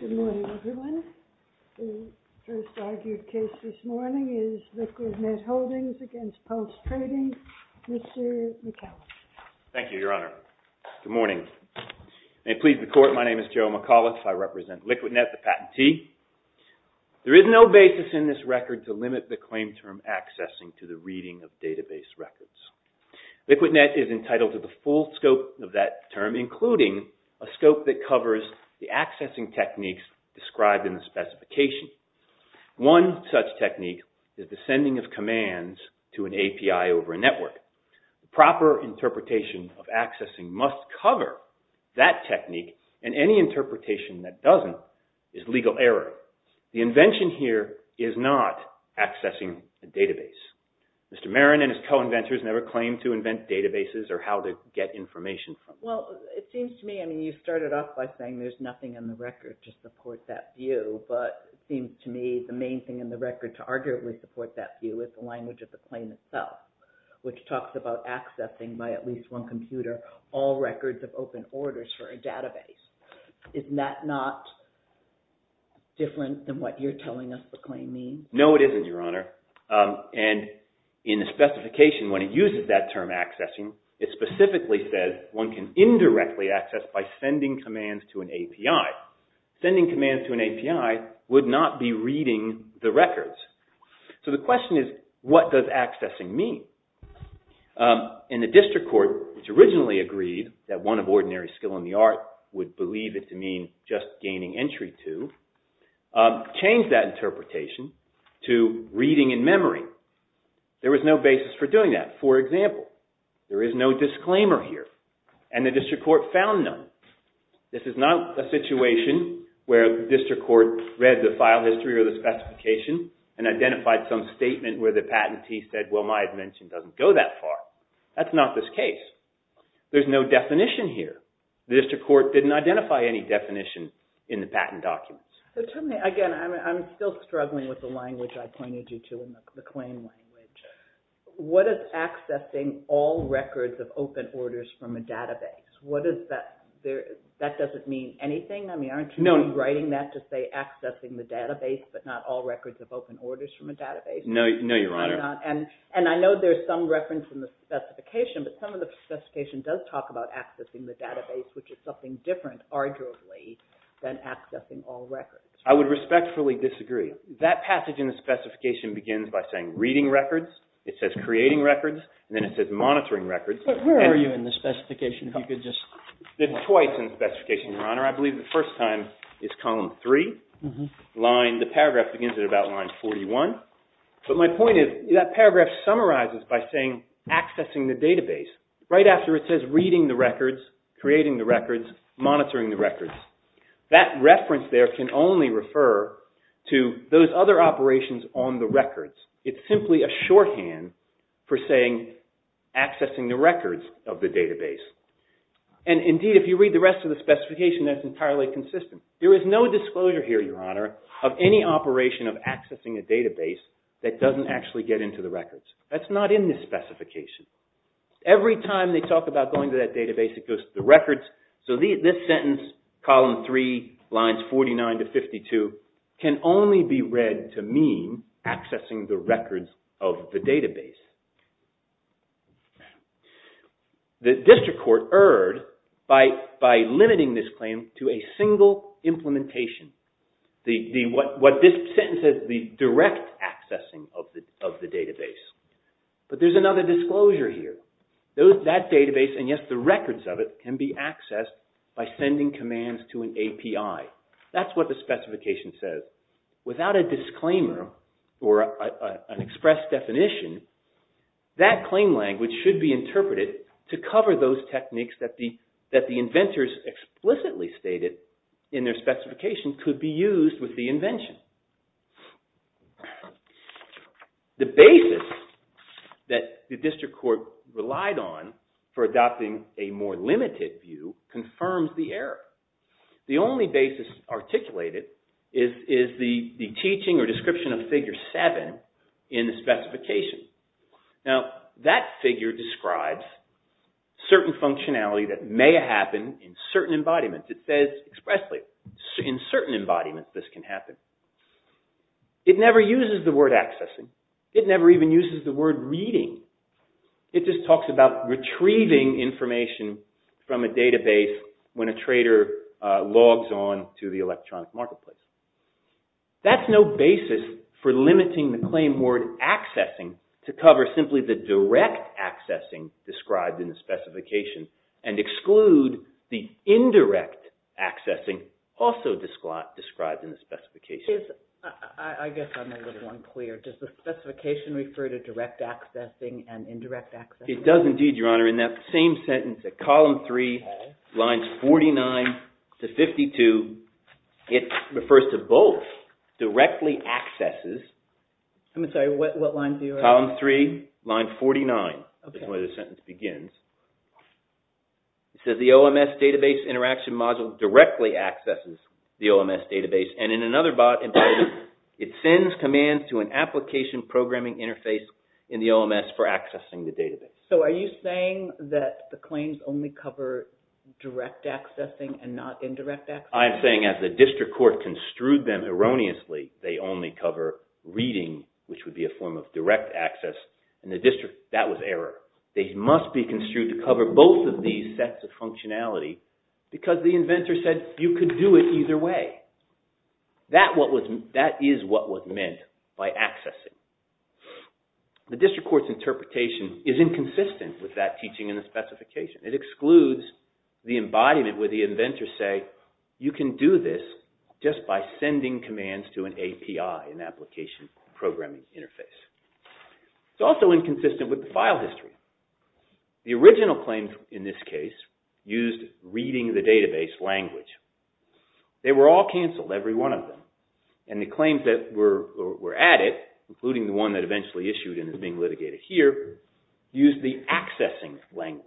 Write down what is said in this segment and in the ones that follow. Good morning, everyone. The first argued case this morning is LIQUIDNET HOLDINGS v. PULSE TRADING. Mr. McAuliffe. Thank you, Your Honor. Good morning. May it please the Court, my name is Joe McAuliffe. I represent LIQUIDNET, the patentee. There is no basis in this record to limit the claim term accessing to the reading of database records. LIQUIDNET is entitled to the full scope of that term, including a scope that covers the accessing techniques described in the specification. One such technique is the sending of commands to an API over a network. The proper interpretation of accessing must cover that technique, and any interpretation that doesn't is legal error. The invention here is not accessing a database. Mr. Marin and his co-inventors never claimed to invent databases or how to get information. Well, it seems to me, I mean, you started off by saying there's nothing in the record to support that view, but it seems to me the main thing in the record to arguably support that view is the language of the claim itself, which talks about accessing by at least one computer all records of open orders for a database. Isn't that not different than what you're telling us the claim means? No, it isn't, Your Honor. And in the specification, when it uses that term accessing, it specifically says one can indirectly access by sending commands to an API. Sending commands to an API would not be reading the records. So the question is, what does accessing mean? And the district court, which originally agreed that one of ordinary skill in the art would believe it to mean just gaining entry to, changed that interpretation to reading in memory. There was no basis for doing that. For example, there is no disclaimer here and the district court found none. This is not a situation where the district court read the file history or the specification and identified some statement where the patentee said, well, my invention doesn't go that far. That's not this case. There's no definition here. The district court didn't identify any definition in the patent documents. Again, I'm still struggling with the language I pointed you to in the claim language. What is accessing all records of open orders from a database? That doesn't mean anything? I mean, aren't you writing that to say accessing the database, but not all records of open orders from a database? No, Your Honor. And I know there's some reference in the specification, but some of the specification does talk about accessing the database, which is something different, arguably, than accessing all records. I would respectfully disagree. That passage in the specification begins by saying reading records. It says creating records, and then it says monitoring records. But where are you in the specification? It's twice in the specification, Your Honor. I believe the first time is column three. The paragraph begins at about line 41. But my point is that paragraph summarizes by saying accessing the database right after it says reading the records, creating the records, monitoring the records. That reference there can only refer to those other operations on the records. It's simply a shorthand for saying accessing the records of the database. And indeed, if you read the rest of the specification, that's entirely consistent. There is no disclosure here, Your Honor, of any operation of accessing a database that doesn't actually get into the records. That's not in the specification. Every time they talk about going to that database, it goes to the records. So this sentence, column three, lines 49 to 52, can only be read to mean accessing the records of the database. The district court erred by limiting this claim to a single implementation. What this sentence says is the direct accessing of the database. But there's another disclosure here. That database, and yes, the records of it, can be accessed by sending commands to an API. That's what the specification says. Without a disclaimer or an express definition, that claim language should be interpreted to cover those techniques that the inventors explicitly stated in their specification could be used with the invention. The basis that the district court relied on for adopting a more limited view confirms the error. The only basis articulated is the teaching or description of figure seven in the specification. Now, that figure describes certain functionality that may happen in certain embodiments. It says expressly in certain embodiments this can happen. It never uses the word accessing. It never even uses the word reading. It just talks about retrieving information from a database when a trader logs on to the electronic marketplace. That's no basis for limiting the claim word accessing to cover simply the direct accessing described in the specification and exclude the indirect accessing also described in the specification. I guess I'm a little unclear. Does the specification refer to direct accessing and indirect accessing? It does indeed, Your Honor. In that same sentence at column three, lines 49 to 52, it refers to both directly accesses. I'm sorry, what line do you refer to? Column three, line 49 is where the sentence begins. It says the OMS database interaction module directly accesses the OMS database. In another embodiment, it sends commands to an application programming interface in the OMS for accessing the database. Are you saying that the claims only cover direct accessing and not indirect accessing? I'm saying as the district court construed them erroneously, they only cover reading, which would be a form of direct access. In the district, that was error. They must be construed to cover both of these sets of functionality because the inventor said you could do it either way. That is what was meant by accessing. The district court's interpretation is inconsistent with that teaching in the specification. It excludes the embodiment where the inventor say you can do this just by sending commands to an API, an application programming interface. It's also inconsistent with the file history. The original claims in this case used reading the database language. They were all canceled, every one of them, and the claims that were added, including the one that eventually issued and is being litigated here, used the accessing language.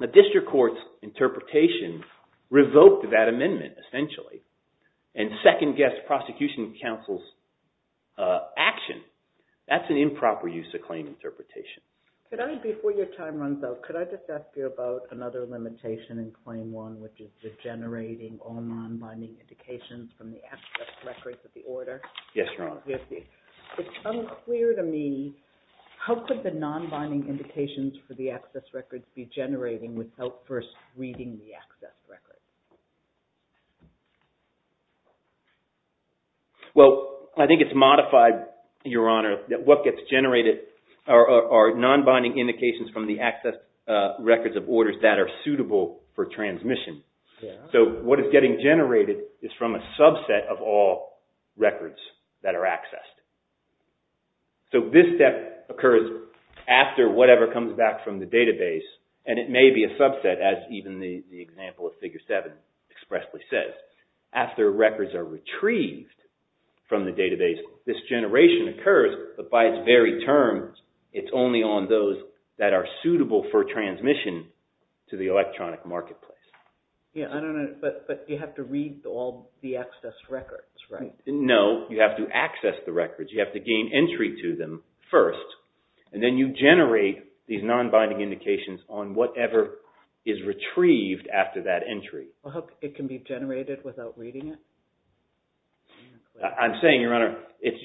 The district court's interpretation revoked that amendment, essentially, and second-guessed prosecution counsel's action. That's an improper use of claim interpretation. Before your time runs out, could I just ask you about another limitation in Claim 1, which is generating all non-binding indications from the access records of the order? Yes, Your Honor. It's unclear to me, how could the non-binding indications for the access records be generating without first reading the access records? Well, I think it's modified, Your Honor, that what gets generated are non-binding indications from the access records of orders that are suitable for transmission. So what is getting generated is from a subset of all records that are accessed. So this step occurs after whatever comes back from the database, and it may be a subset, as even the example of Figure 7 expressly says. After records are retrieved from the database, this generation occurs, but by its very terms, it's only on those that are suitable for transmission to the electronic marketplace. Yeah, I don't know, but you have to read all the access records, right? No, you have to access the records. You have to gain entry to them first, and then you generate these non-binding indications on whatever is retrieved after that entry. Well, how can it be generated without reading it? I'm saying, Your Honor,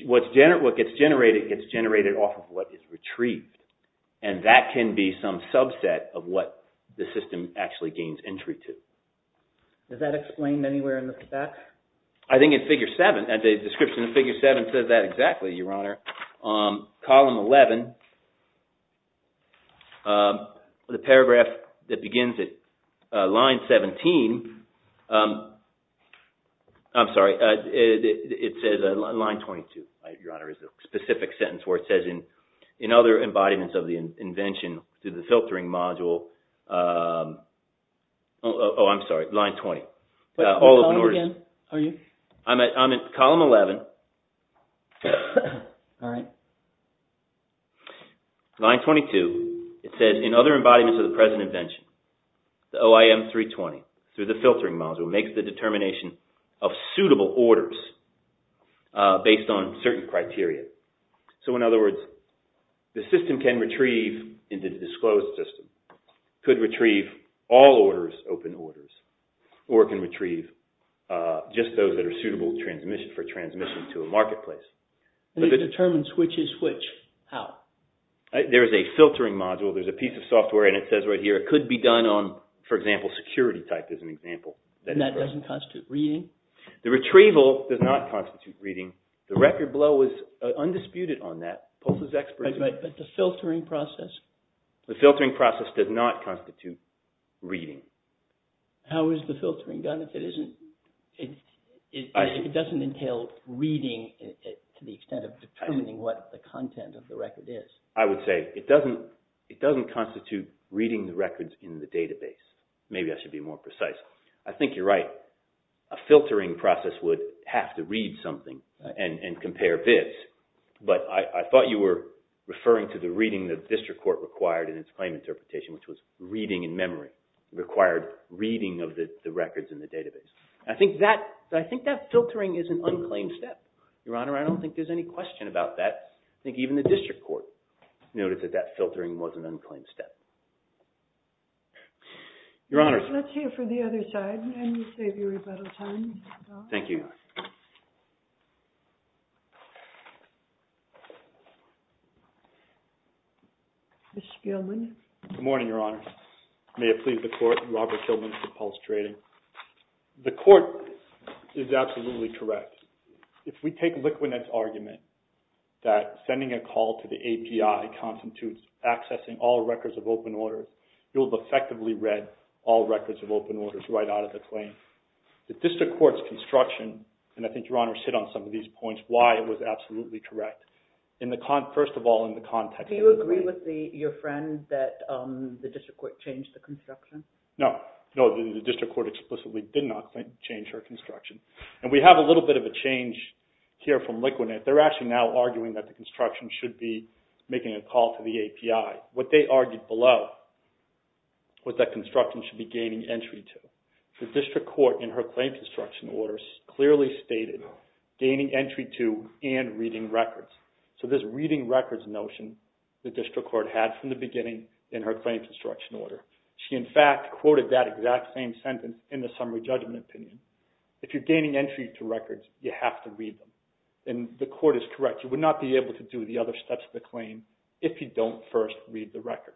what gets generated gets generated off of what is retrieved, and that can be some subset of what the system actually gains entry to. Is that explained anywhere in the specs? I think in Figure 7, the description in Figure 7 says that exactly, Your Honor. Column 11, the paragraph that begins at line 17 – I'm sorry, it says line 22, Your Honor, is the specific sentence where it says, in other embodiments of the invention through the filtering module – oh, I'm sorry, line 20. I'm at column 11. Line 22, it says, in other embodiments of the present invention, the OIM-320, through the filtering module, makes the determination of suitable orders based on certain criteria. So, in other words, the system can retrieve, in the disclosed system, could retrieve all orders, open orders, or it can retrieve just those that are suitable for transmission to a marketplace. It determines which is which. How? There is a filtering module. There is a piece of software, and it says right here, it could be done on, for example, security type is an example. And that doesn't constitute reading? The retrieval does not constitute reading. The record below is undisputed on that. But the filtering process? The filtering process does not constitute reading. How is the filtering done if it doesn't entail reading to the extent of determining what the content of the record is? I would say it doesn't constitute reading the records in the database. Maybe I should be more precise. I think you're right. A filtering process would have to read something and compare bids. But I thought you were referring to the reading the district court required in its claim interpretation, which was reading in memory. It required reading of the records in the database. I think that filtering is an unclaimed step. Your Honor, I don't think there's any question about that. I think even the district court noted that that filtering was an unclaimed step. Your Honor. Let's hear from the other side and save your rebuttal time. Thank you. Mr. Kilman. Good morning, Your Honor. May it please the Court, Robert Kilman for Pulse Trading. The Court is absolutely correct. If we take Liquanet's argument that sending a call to the API constitutes accessing all records of open order, you'll have effectively read all records of open order right out of the claim. The district court's construction, and I think, Your Honor, sit on some of these points, why it was absolutely correct. First of all, in the context of the claim. Do you agree with your friend that the district court changed the construction? No. No, the district court explicitly did not change her construction. And we have a little bit of a change here from Liquanet. They're actually now arguing that the construction should be making a call to the API. What they argued below was that construction should be gaining entry to. The district court in her claim construction orders clearly stated gaining entry to and reading records. So this reading records notion, the district court had from the beginning in her claim construction order. She, in fact, quoted that exact same sentence in the summary judgment opinion. If you're gaining entry to records, you have to read them. And the court is correct. You would not be able to do the other steps of the claim if you don't first read the records.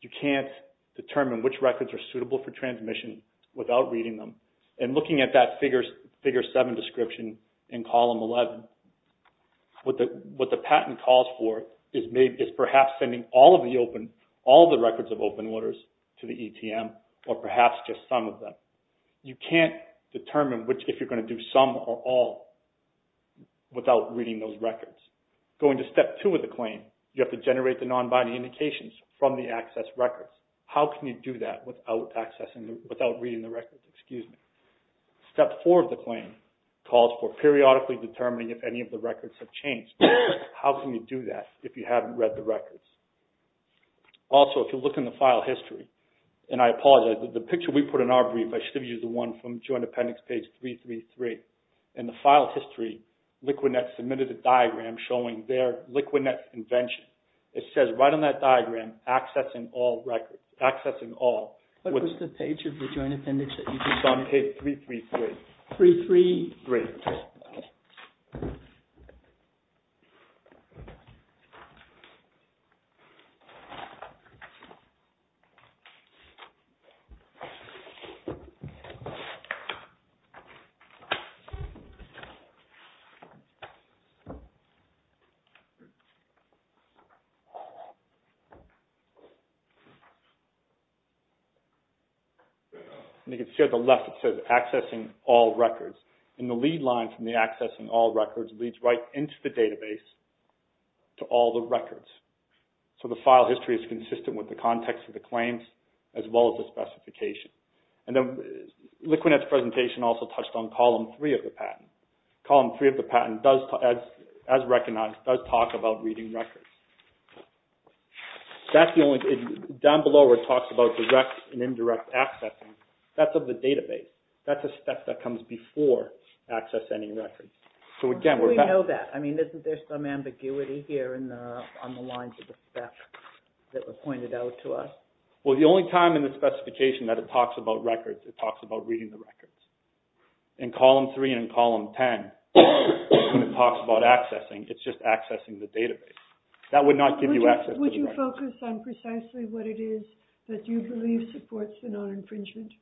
You can't determine which records are suitable for transmission without reading them. And looking at that Figure 7 description in Column 11, what the patent calls for is perhaps sending all of the records of open orders to the ETM, or perhaps just some of them. You can't determine if you're going to do some or all without reading those records. Going to Step 2 of the claim, you have to generate the non-binding indications from the access records. How can you do that without reading the records? Step 4 of the claim calls for periodically determining if any of the records have changed. How can you do that if you haven't read the records? Also, if you look in the file history, and I apologize, the picture we put in our brief, I should have used the one from Joint Appendix page 333. In the file history, Liquinet submitted a diagram showing their Liquinet invention. It says right on that diagram, accessing all records. What was the page of the Joint Appendix that you just saw? Page 333. 333. Great. Let's see. You can see on the left it says accessing all records. The lead line from the accessing all records leads right into the database to all the records. The file history is consistent with the context of the claims as well as the specification. Liquinet's presentation also touched on Column 3 of the patent. Column 3 of the patent, as recognized, does talk about reading records. Down below it talks about direct and indirect accessing. That's of the database. That's a step that comes before accessing records. How do we know that? I mean, isn't there some ambiguity here on the lines of the step that was pointed out to us? Well, the only time in the specification that it talks about records, it talks about reading the records. In Column 3 and in Column 10, it talks about accessing. It's just accessing the database. That would not give you access to the records. Would you focus on precisely what it is that you believe supports the non-infringement?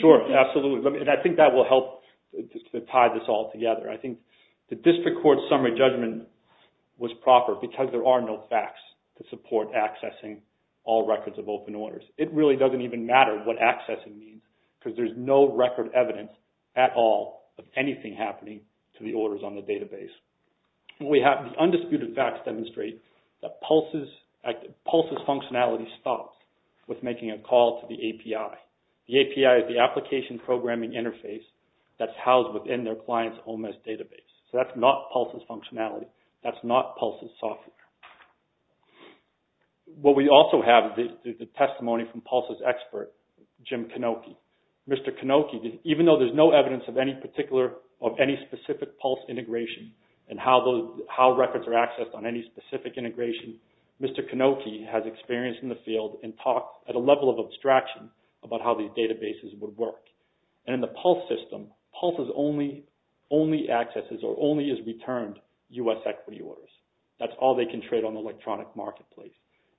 Sure, absolutely. I think that will help to tie this all together. I think the district court summary judgment was proper because there are no facts to support accessing all records of open orders. It really doesn't even matter what accessing means because there's no record evidence at all of anything happening to the orders on the database. The undisputed facts demonstrate that PULSE's functionality stops with making a call to the API. The API is the application programming interface that's housed within their client's OMS database. So that's not PULSE's functionality. That's not PULSE's software. What we also have is the testimony from PULSE's expert, Jim Kanoky. Mr. Kanoky, even though there's no evidence of any specific PULSE integration and how records are accessed on any specific integration, Mr. Kanoky has experienced in the field and talked at a level of abstraction about how these databases would work. In the PULSE system, PULSE only accesses or only is returned U.S. equity orders. That's all they can trade on the electronic marketplace.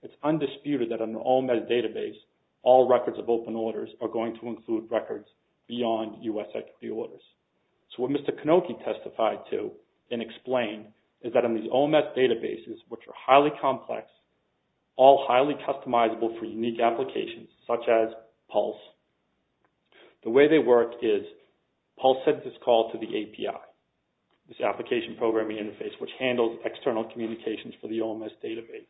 It's undisputed that on an OMS database, all records of open orders are going to include records beyond U.S. equity orders. So what Mr. Kanoky testified to and explained is that on these OMS databases, which are highly complex, all highly customizable for unique applications such as PULSE, the way they work is PULSE sends its call to the API, this application programming interface, which handles external communications for the OMS database.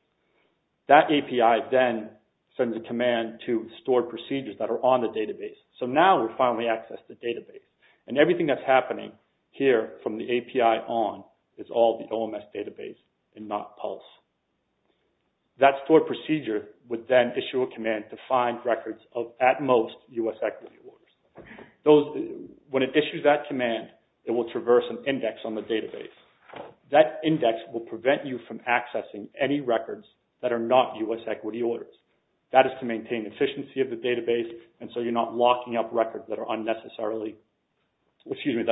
That API then sends a command to store procedures that are on the database. So now we finally access the database. And everything that's happening here from the API on is all the OMS database and not PULSE. That stored procedure would then issue a command to find records of at most U.S. equity orders. When it issues that command, it will traverse an index on the database. That index will prevent you from accessing any records that are not U.S. equity orders. That is to maintain efficiency of the database and so you're not locking up records that are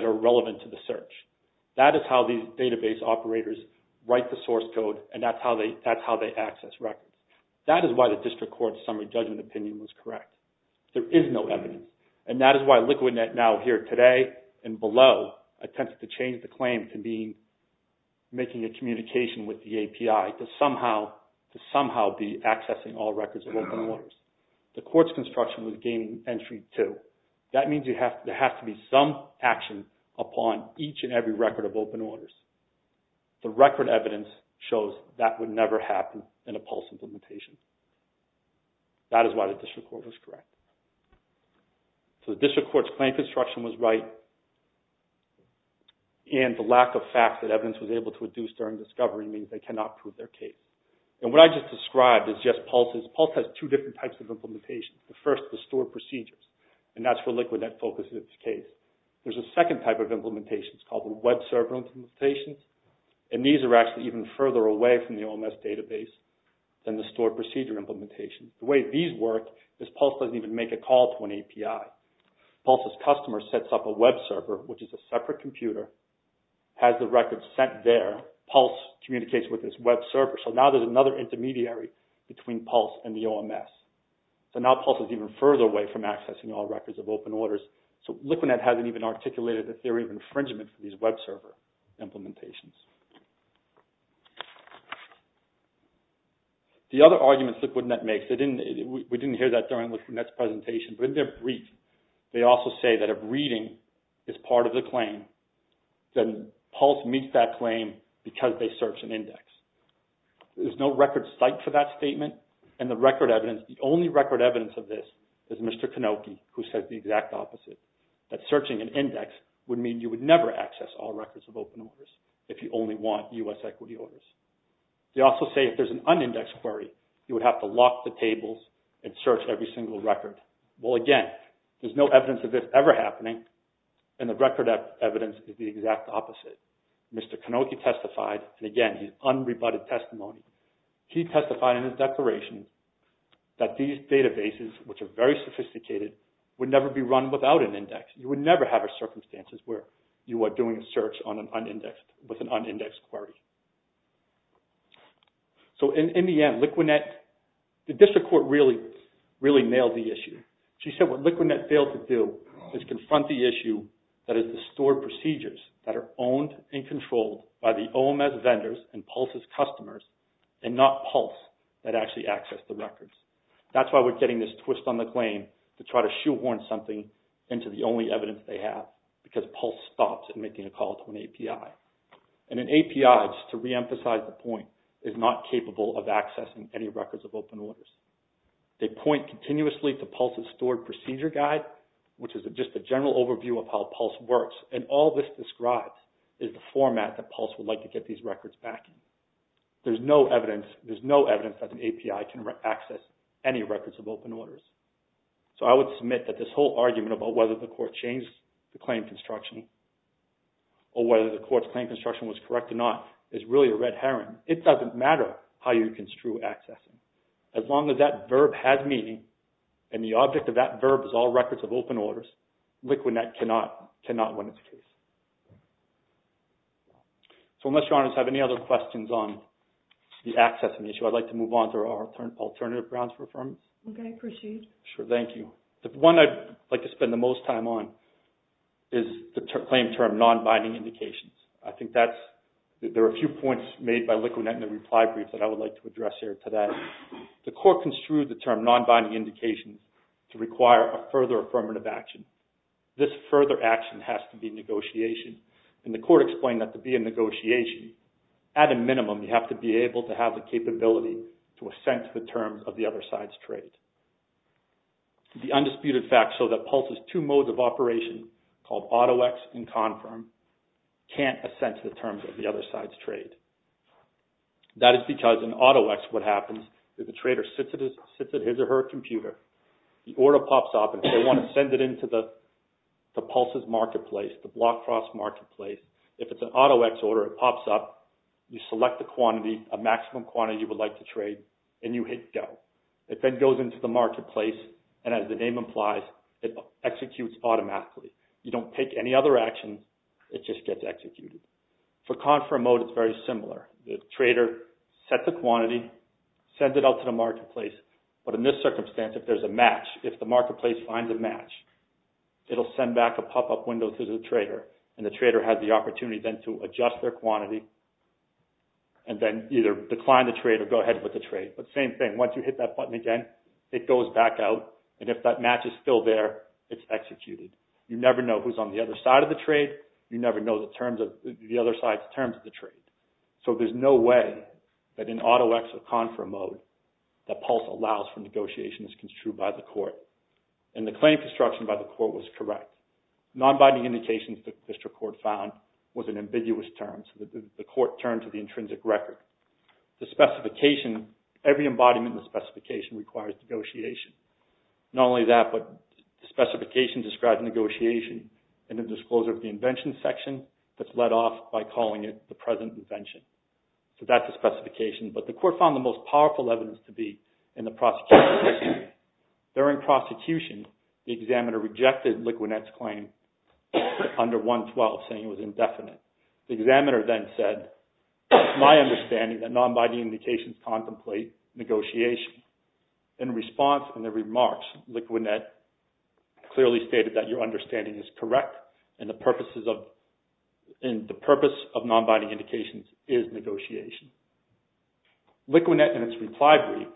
irrelevant to the search. That is how these database operators write the source code and that's how they access records. That is why the district court's summary judgment opinion was correct. There is no evidence. And that is why LiquidNet now here today and below attempted to change the claim to be making a communication with the API to somehow be accessing all records of open orders. The court's construction was gaining entry too. That means there has to be some action upon each and every record of open orders. The record evidence shows that would never happen in a PULSE implementation. That is why the district court was correct. So the district court's claim construction was right and the lack of fact that evidence was able to reduce during discovery means they cannot prove their case. And what I just described is just PULSE. PULSE has two different types of implementations. The first is the stored procedures and that's where LiquidNet focuses its case. There is a second type of implementation. It's called the web server implementation and these are actually even further away from the OMS database than the stored procedures. The way these work is PULSE doesn't even make a call to an API. PULSE's customer sets up a web server which is a separate computer, has the records sent there. PULSE communicates with this web server. So now there is another intermediary between PULSE and the OMS. So now PULSE is even further away from accessing all records of open orders. So LiquidNet hasn't even articulated the theory of infringement for these web server implementations. The other arguments LiquidNet makes, we didn't hear that during LiquidNet's presentation, but in their brief they also say that if reading is part of the claim, then PULSE meets that claim because they search and index. There's no record site for that statement and the record evidence, the only record evidence of this is Mr. Kanoky who says the exact opposite. That searching and index would mean you would never access all records of open orders if you only want U.S. equity orders. They also say if there's an unindexed query, you would have to lock the tables and search every single record. Well again, there's no evidence of this ever happening and the record evidence is the exact opposite. Mr. Kanoky testified and again he's unrebutted testimony. He testified in his declaration that these databases, which are very sophisticated, would never be run without an index. You would never have a circumstance where you are doing a search with an unindexed query. So in the end, LiquidNet, the district court really nailed the issue. She said what LiquidNet failed to do is confront the issue that is the stored procedures that are owned and controlled by the OMS vendors and PULSE's customers and not PULSE that actually access the records. That's why we're getting this twist on the claim to try to shoehorn something into the only evidence they have because PULSE stops at making a call to an API. And an API, just to reemphasize the point, is not capable of accessing any records of open orders. They point continuously to PULSE's stored procedure guide, which is just a general overview of how PULSE works. And all this describes is the format that PULSE would like to get these records back in. There's no evidence that the API can access any records of open orders. So I would submit that this whole argument about whether the court changed the claim construction or whether the court's claim construction was correct or not is really a red herring. It doesn't matter how you construe access. As long as that verb has meaning and the object of that verb is all records of open orders, LiquidNet cannot win its case. So unless your honors have any other questions on the accessing issue, I'd like to move on to our alternative grounds for affirmation. Okay, I appreciate it. Sure, thank you. The one I'd like to spend the most time on is the claim term non-binding indications. There are a few points made by LiquidNet in the reply brief that I would like to address here today. The court construed the term non-binding indication to require a further affirmative action. This further action has to be negotiation. And the court explained that to be in negotiation, at a minimum, you have to be able to have the capability to assent the terms of the other side's trade. The undisputed facts show that Pulse's two modes of operation, called AutoX and Confirm, can't assent the terms of the other side's trade. That is because in AutoX, what happens is the trader sits at his or her computer. The order pops up and they want to send it into the Pulse's marketplace, the BlockCross marketplace. If it's an AutoX order, it pops up. You select the quantity, a maximum quantity you would like to trade, and you hit go. It then goes into the marketplace. And as the name implies, it executes automatically. You don't take any other action. It just gets executed. For Confirm mode, it's very similar. The trader sets the quantity, sends it out to the marketplace. But in this circumstance, if there's a match, if the marketplace finds a match, it'll send back a pop-up window to the trader. And the trader has the opportunity then to adjust their quantity and then either decline the trade or go ahead with the trade. But same thing, once you hit that button again, it goes back out. And if that match is still there, it's executed. You never know who's on the other side of the trade. You never know the other side's terms of the trade. So there's no way that in AutoX or Confirm mode, that Pulse allows for negotiations construed by the court. And the claim construction by the court was correct. Non-binding indications, the district court found, was an ambiguous term. So the court turned to the intrinsic record. The specification, every embodiment of the specification requires negotiation. Not only that, but the specification describes negotiation and the disclosure of the invention section that's let off by calling it the present invention. So that's the specification. But the court found the most powerful evidence to be in the prosecution. During prosecution, the examiner rejected Liquinet's claim under 112, saying it was indefinite. The examiner then said, it's my understanding that non-binding indications contemplate negotiation. In response, in their remarks, Liquinet clearly stated that your understanding is correct and the purpose of non-binding indications is negotiation. Liquinet, in its reply brief,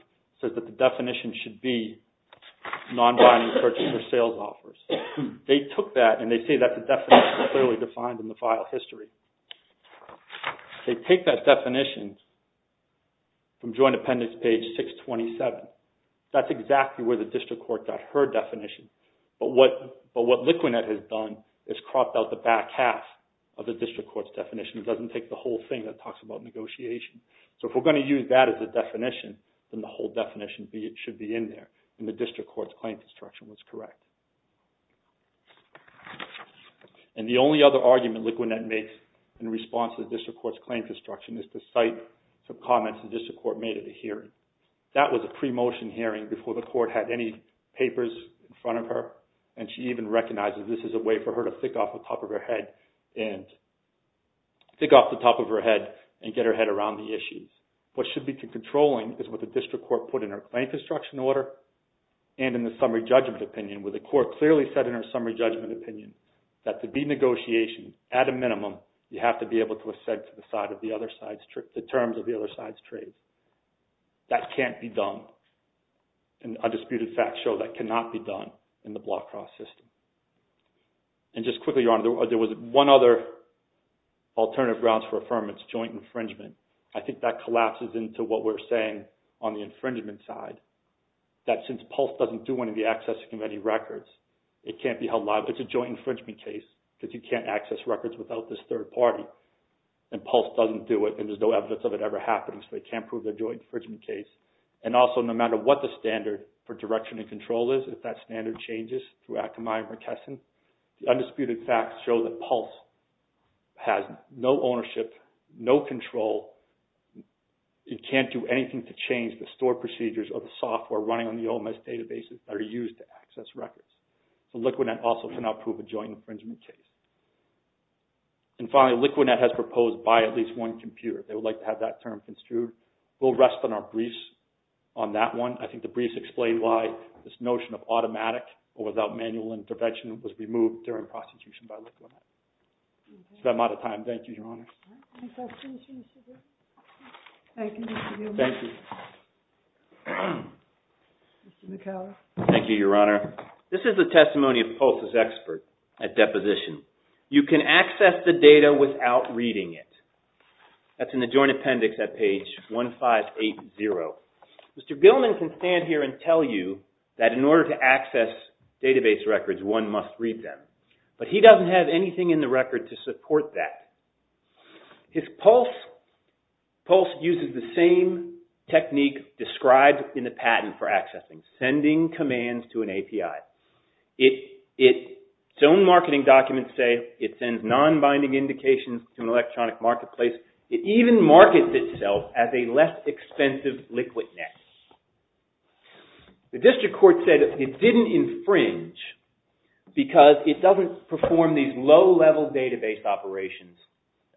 says that the definition should be non-binding purchase or sales offers. They took that and they say that the definition is clearly defined in the file history. They take that definition from joint appendix page 627. That's exactly where the district court got her definition. But what Liquinet has done is cropped out the back half of the district court's definition. It doesn't take the whole thing that talks about negotiation. So if we're going to use that as a definition, then the whole definition should be in there. And the district court's claim construction was correct. And the only other argument Liquinet makes in response to the district court's claim construction is to cite some comments the district court made at a hearing. That was a pre-motion hearing before the court had any papers in front of her. And she even recognizes this is a way for her to think off the top of her head and get her head around the issues. What should be controlling is what the district court put in her claim construction order and in the summary judgment opinion, where the court clearly said in her summary judgment opinion that to be negotiated at a minimum, you have to be able to ascend to the terms of the other side's trade. That can't be done. And undisputed facts show that cannot be done in the block cross system. And just quickly, Your Honor, there was one other alternative grounds for affirmance, joint infringement. I think that collapses into what we're saying on the infringement side, that since PULSE doesn't do any of the accessing of any records, it can't be held liable. It's a joint infringement case because you can't access records without this third party. And PULSE doesn't do it, and there's no evidence of it ever happening, so they can't prove a joint infringement case. And also, no matter what the standard for direction and control is, if that standard changes through Akamai or McKesson, the undisputed facts show that PULSE has no ownership, no control. It can't do anything to change the store procedures or the software running on the OMS databases that are used to access records. So LiquidNet also cannot prove a joint infringement case. And finally, LiquidNet has proposed by at least one computer. They would like to have that term construed. We'll rest on our briefs on that one. I think the briefs explain why this notion of automatic or without manual intervention was removed during prosecution by LiquidNet. So I'm out of time. Thank you, Your Honor. Thank you. Thank you, Your Honor. This is the testimony of PULSE's expert at deposition. You can access the data without reading it. That's in the joint appendix at page 1580. Mr. Gilman can stand here and tell you that in order to access database records, one must read them. But he doesn't have anything in the record to support that. PULSE uses the same technique described in the patent for accessing, sending commands to an API. Its own marketing documents say it sends non-binding indications to an electronic marketplace. It even markets itself as a less expensive LiquidNet. The district court said it didn't infringe because it doesn't perform these low-level database operations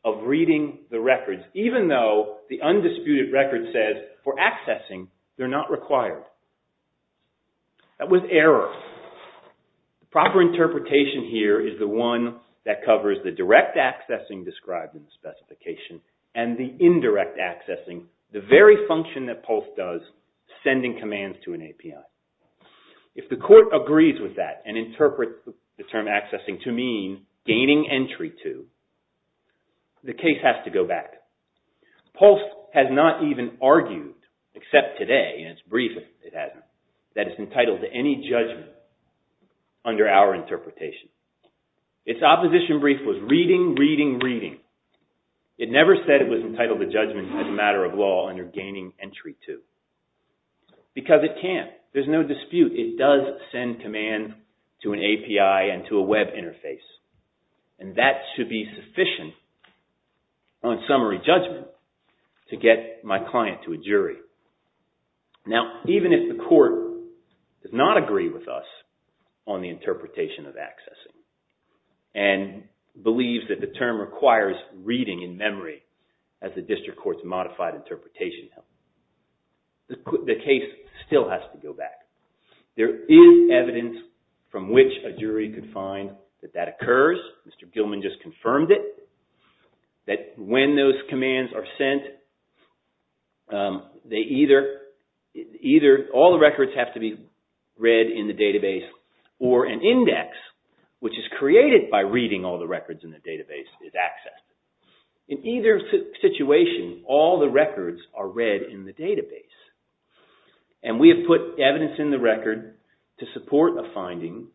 of reading the records, even though the undisputed record says for accessing, they're not required. That was error. The proper interpretation here is the one that covers the direct accessing described in the specification and the indirect accessing, the very function that PULSE does, sending commands to an API. If the court agrees with that and interprets the term accessing to mean gaining entry to, the case has to go back. PULSE has not even argued, except today in its brief, that it's entitled to any judgment under our interpretation. Its opposition brief was reading, reading, reading. It never said it was entitled to judgment as a matter of law under gaining entry to. Because it can't. There's no dispute. It does send commands to an API and to a web interface. And that should be sufficient on summary judgment to get my client to a jury. Now, even if the court does not agree with us on the interpretation of accessing and believes that the term requires reading in memory as the district court's modified interpretation, the case still has to go back. There is evidence from which a jury can find that that occurs. Mr. Gilman just confirmed it. That when those commands are sent, either all the records have to be read in the database or an index, which is created by reading all the records in the database, is accessed. In either situation, all the records are read in the database. And we have put evidence in the record to support a finding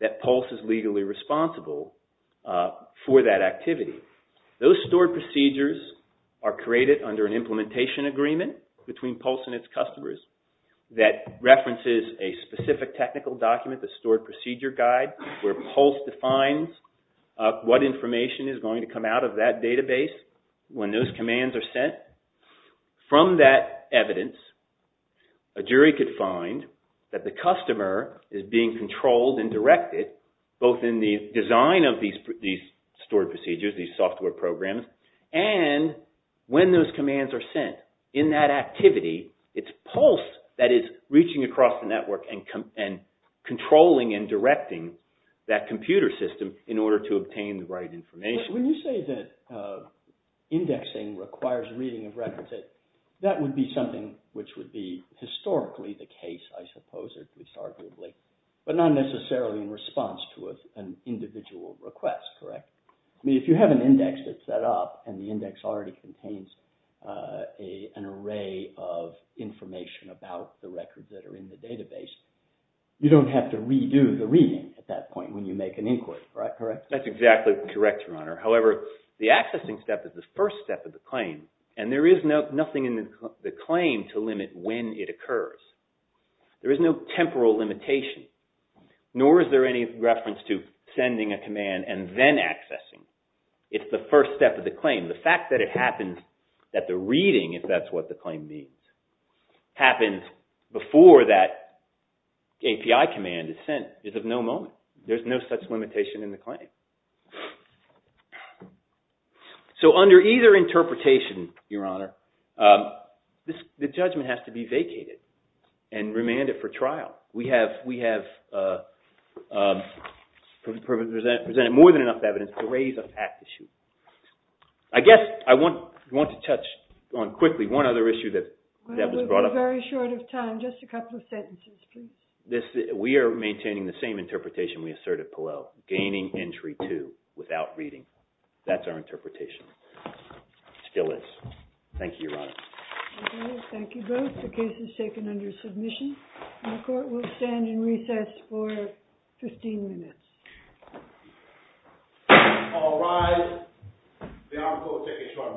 that PULSE is legally responsible for that activity. Those stored procedures are created under an implementation agreement between PULSE and its customers that references a specific technical document, the stored procedure guide, where PULSE defines what information is going to come out of that database when those commands are sent. From that evidence, a jury could find that the customer is being controlled and directed, both in the design of these stored procedures, these software programs, and when those commands are sent. In that activity, it's PULSE that is reaching across the network and controlling and directing that computer system in order to obtain the right information. When you say that indexing requires reading of records, that would be something which would be historically the case, I suppose, at least arguably, but not necessarily in response to an individual request, correct? I mean, if you have an index that's set up and the index already contains an array of information about the records that are in the database, you don't have to redo the reading at that point when you make an inquiry, correct? That's exactly correct, Your Honor. However, the accessing step is the first step of the claim, and there is nothing in the claim to limit when it occurs. There is no temporal limitation, nor is there any reference to sending a command and then accessing. It's the first step of the claim. The fact that it happens, that the reading, if that's what the claim means, happens before that API command is sent is of no moment. There's no such limitation in the claim. So under either interpretation, Your Honor, the judgment has to be vacated and remanded for trial. We have presented more than enough evidence to raise a fact issue. I guess I want to touch on quickly one other issue that was brought up. We're very short of time. Just a couple of sentences, please. We are maintaining the same interpretation we asserted below, gaining entry to without reading. That's our interpretation. It still is. Thank you, Your Honor. Thank you both. The case is taken under submission. The court will stand in recess for 15 minutes. All rise. The article is taken short of recess.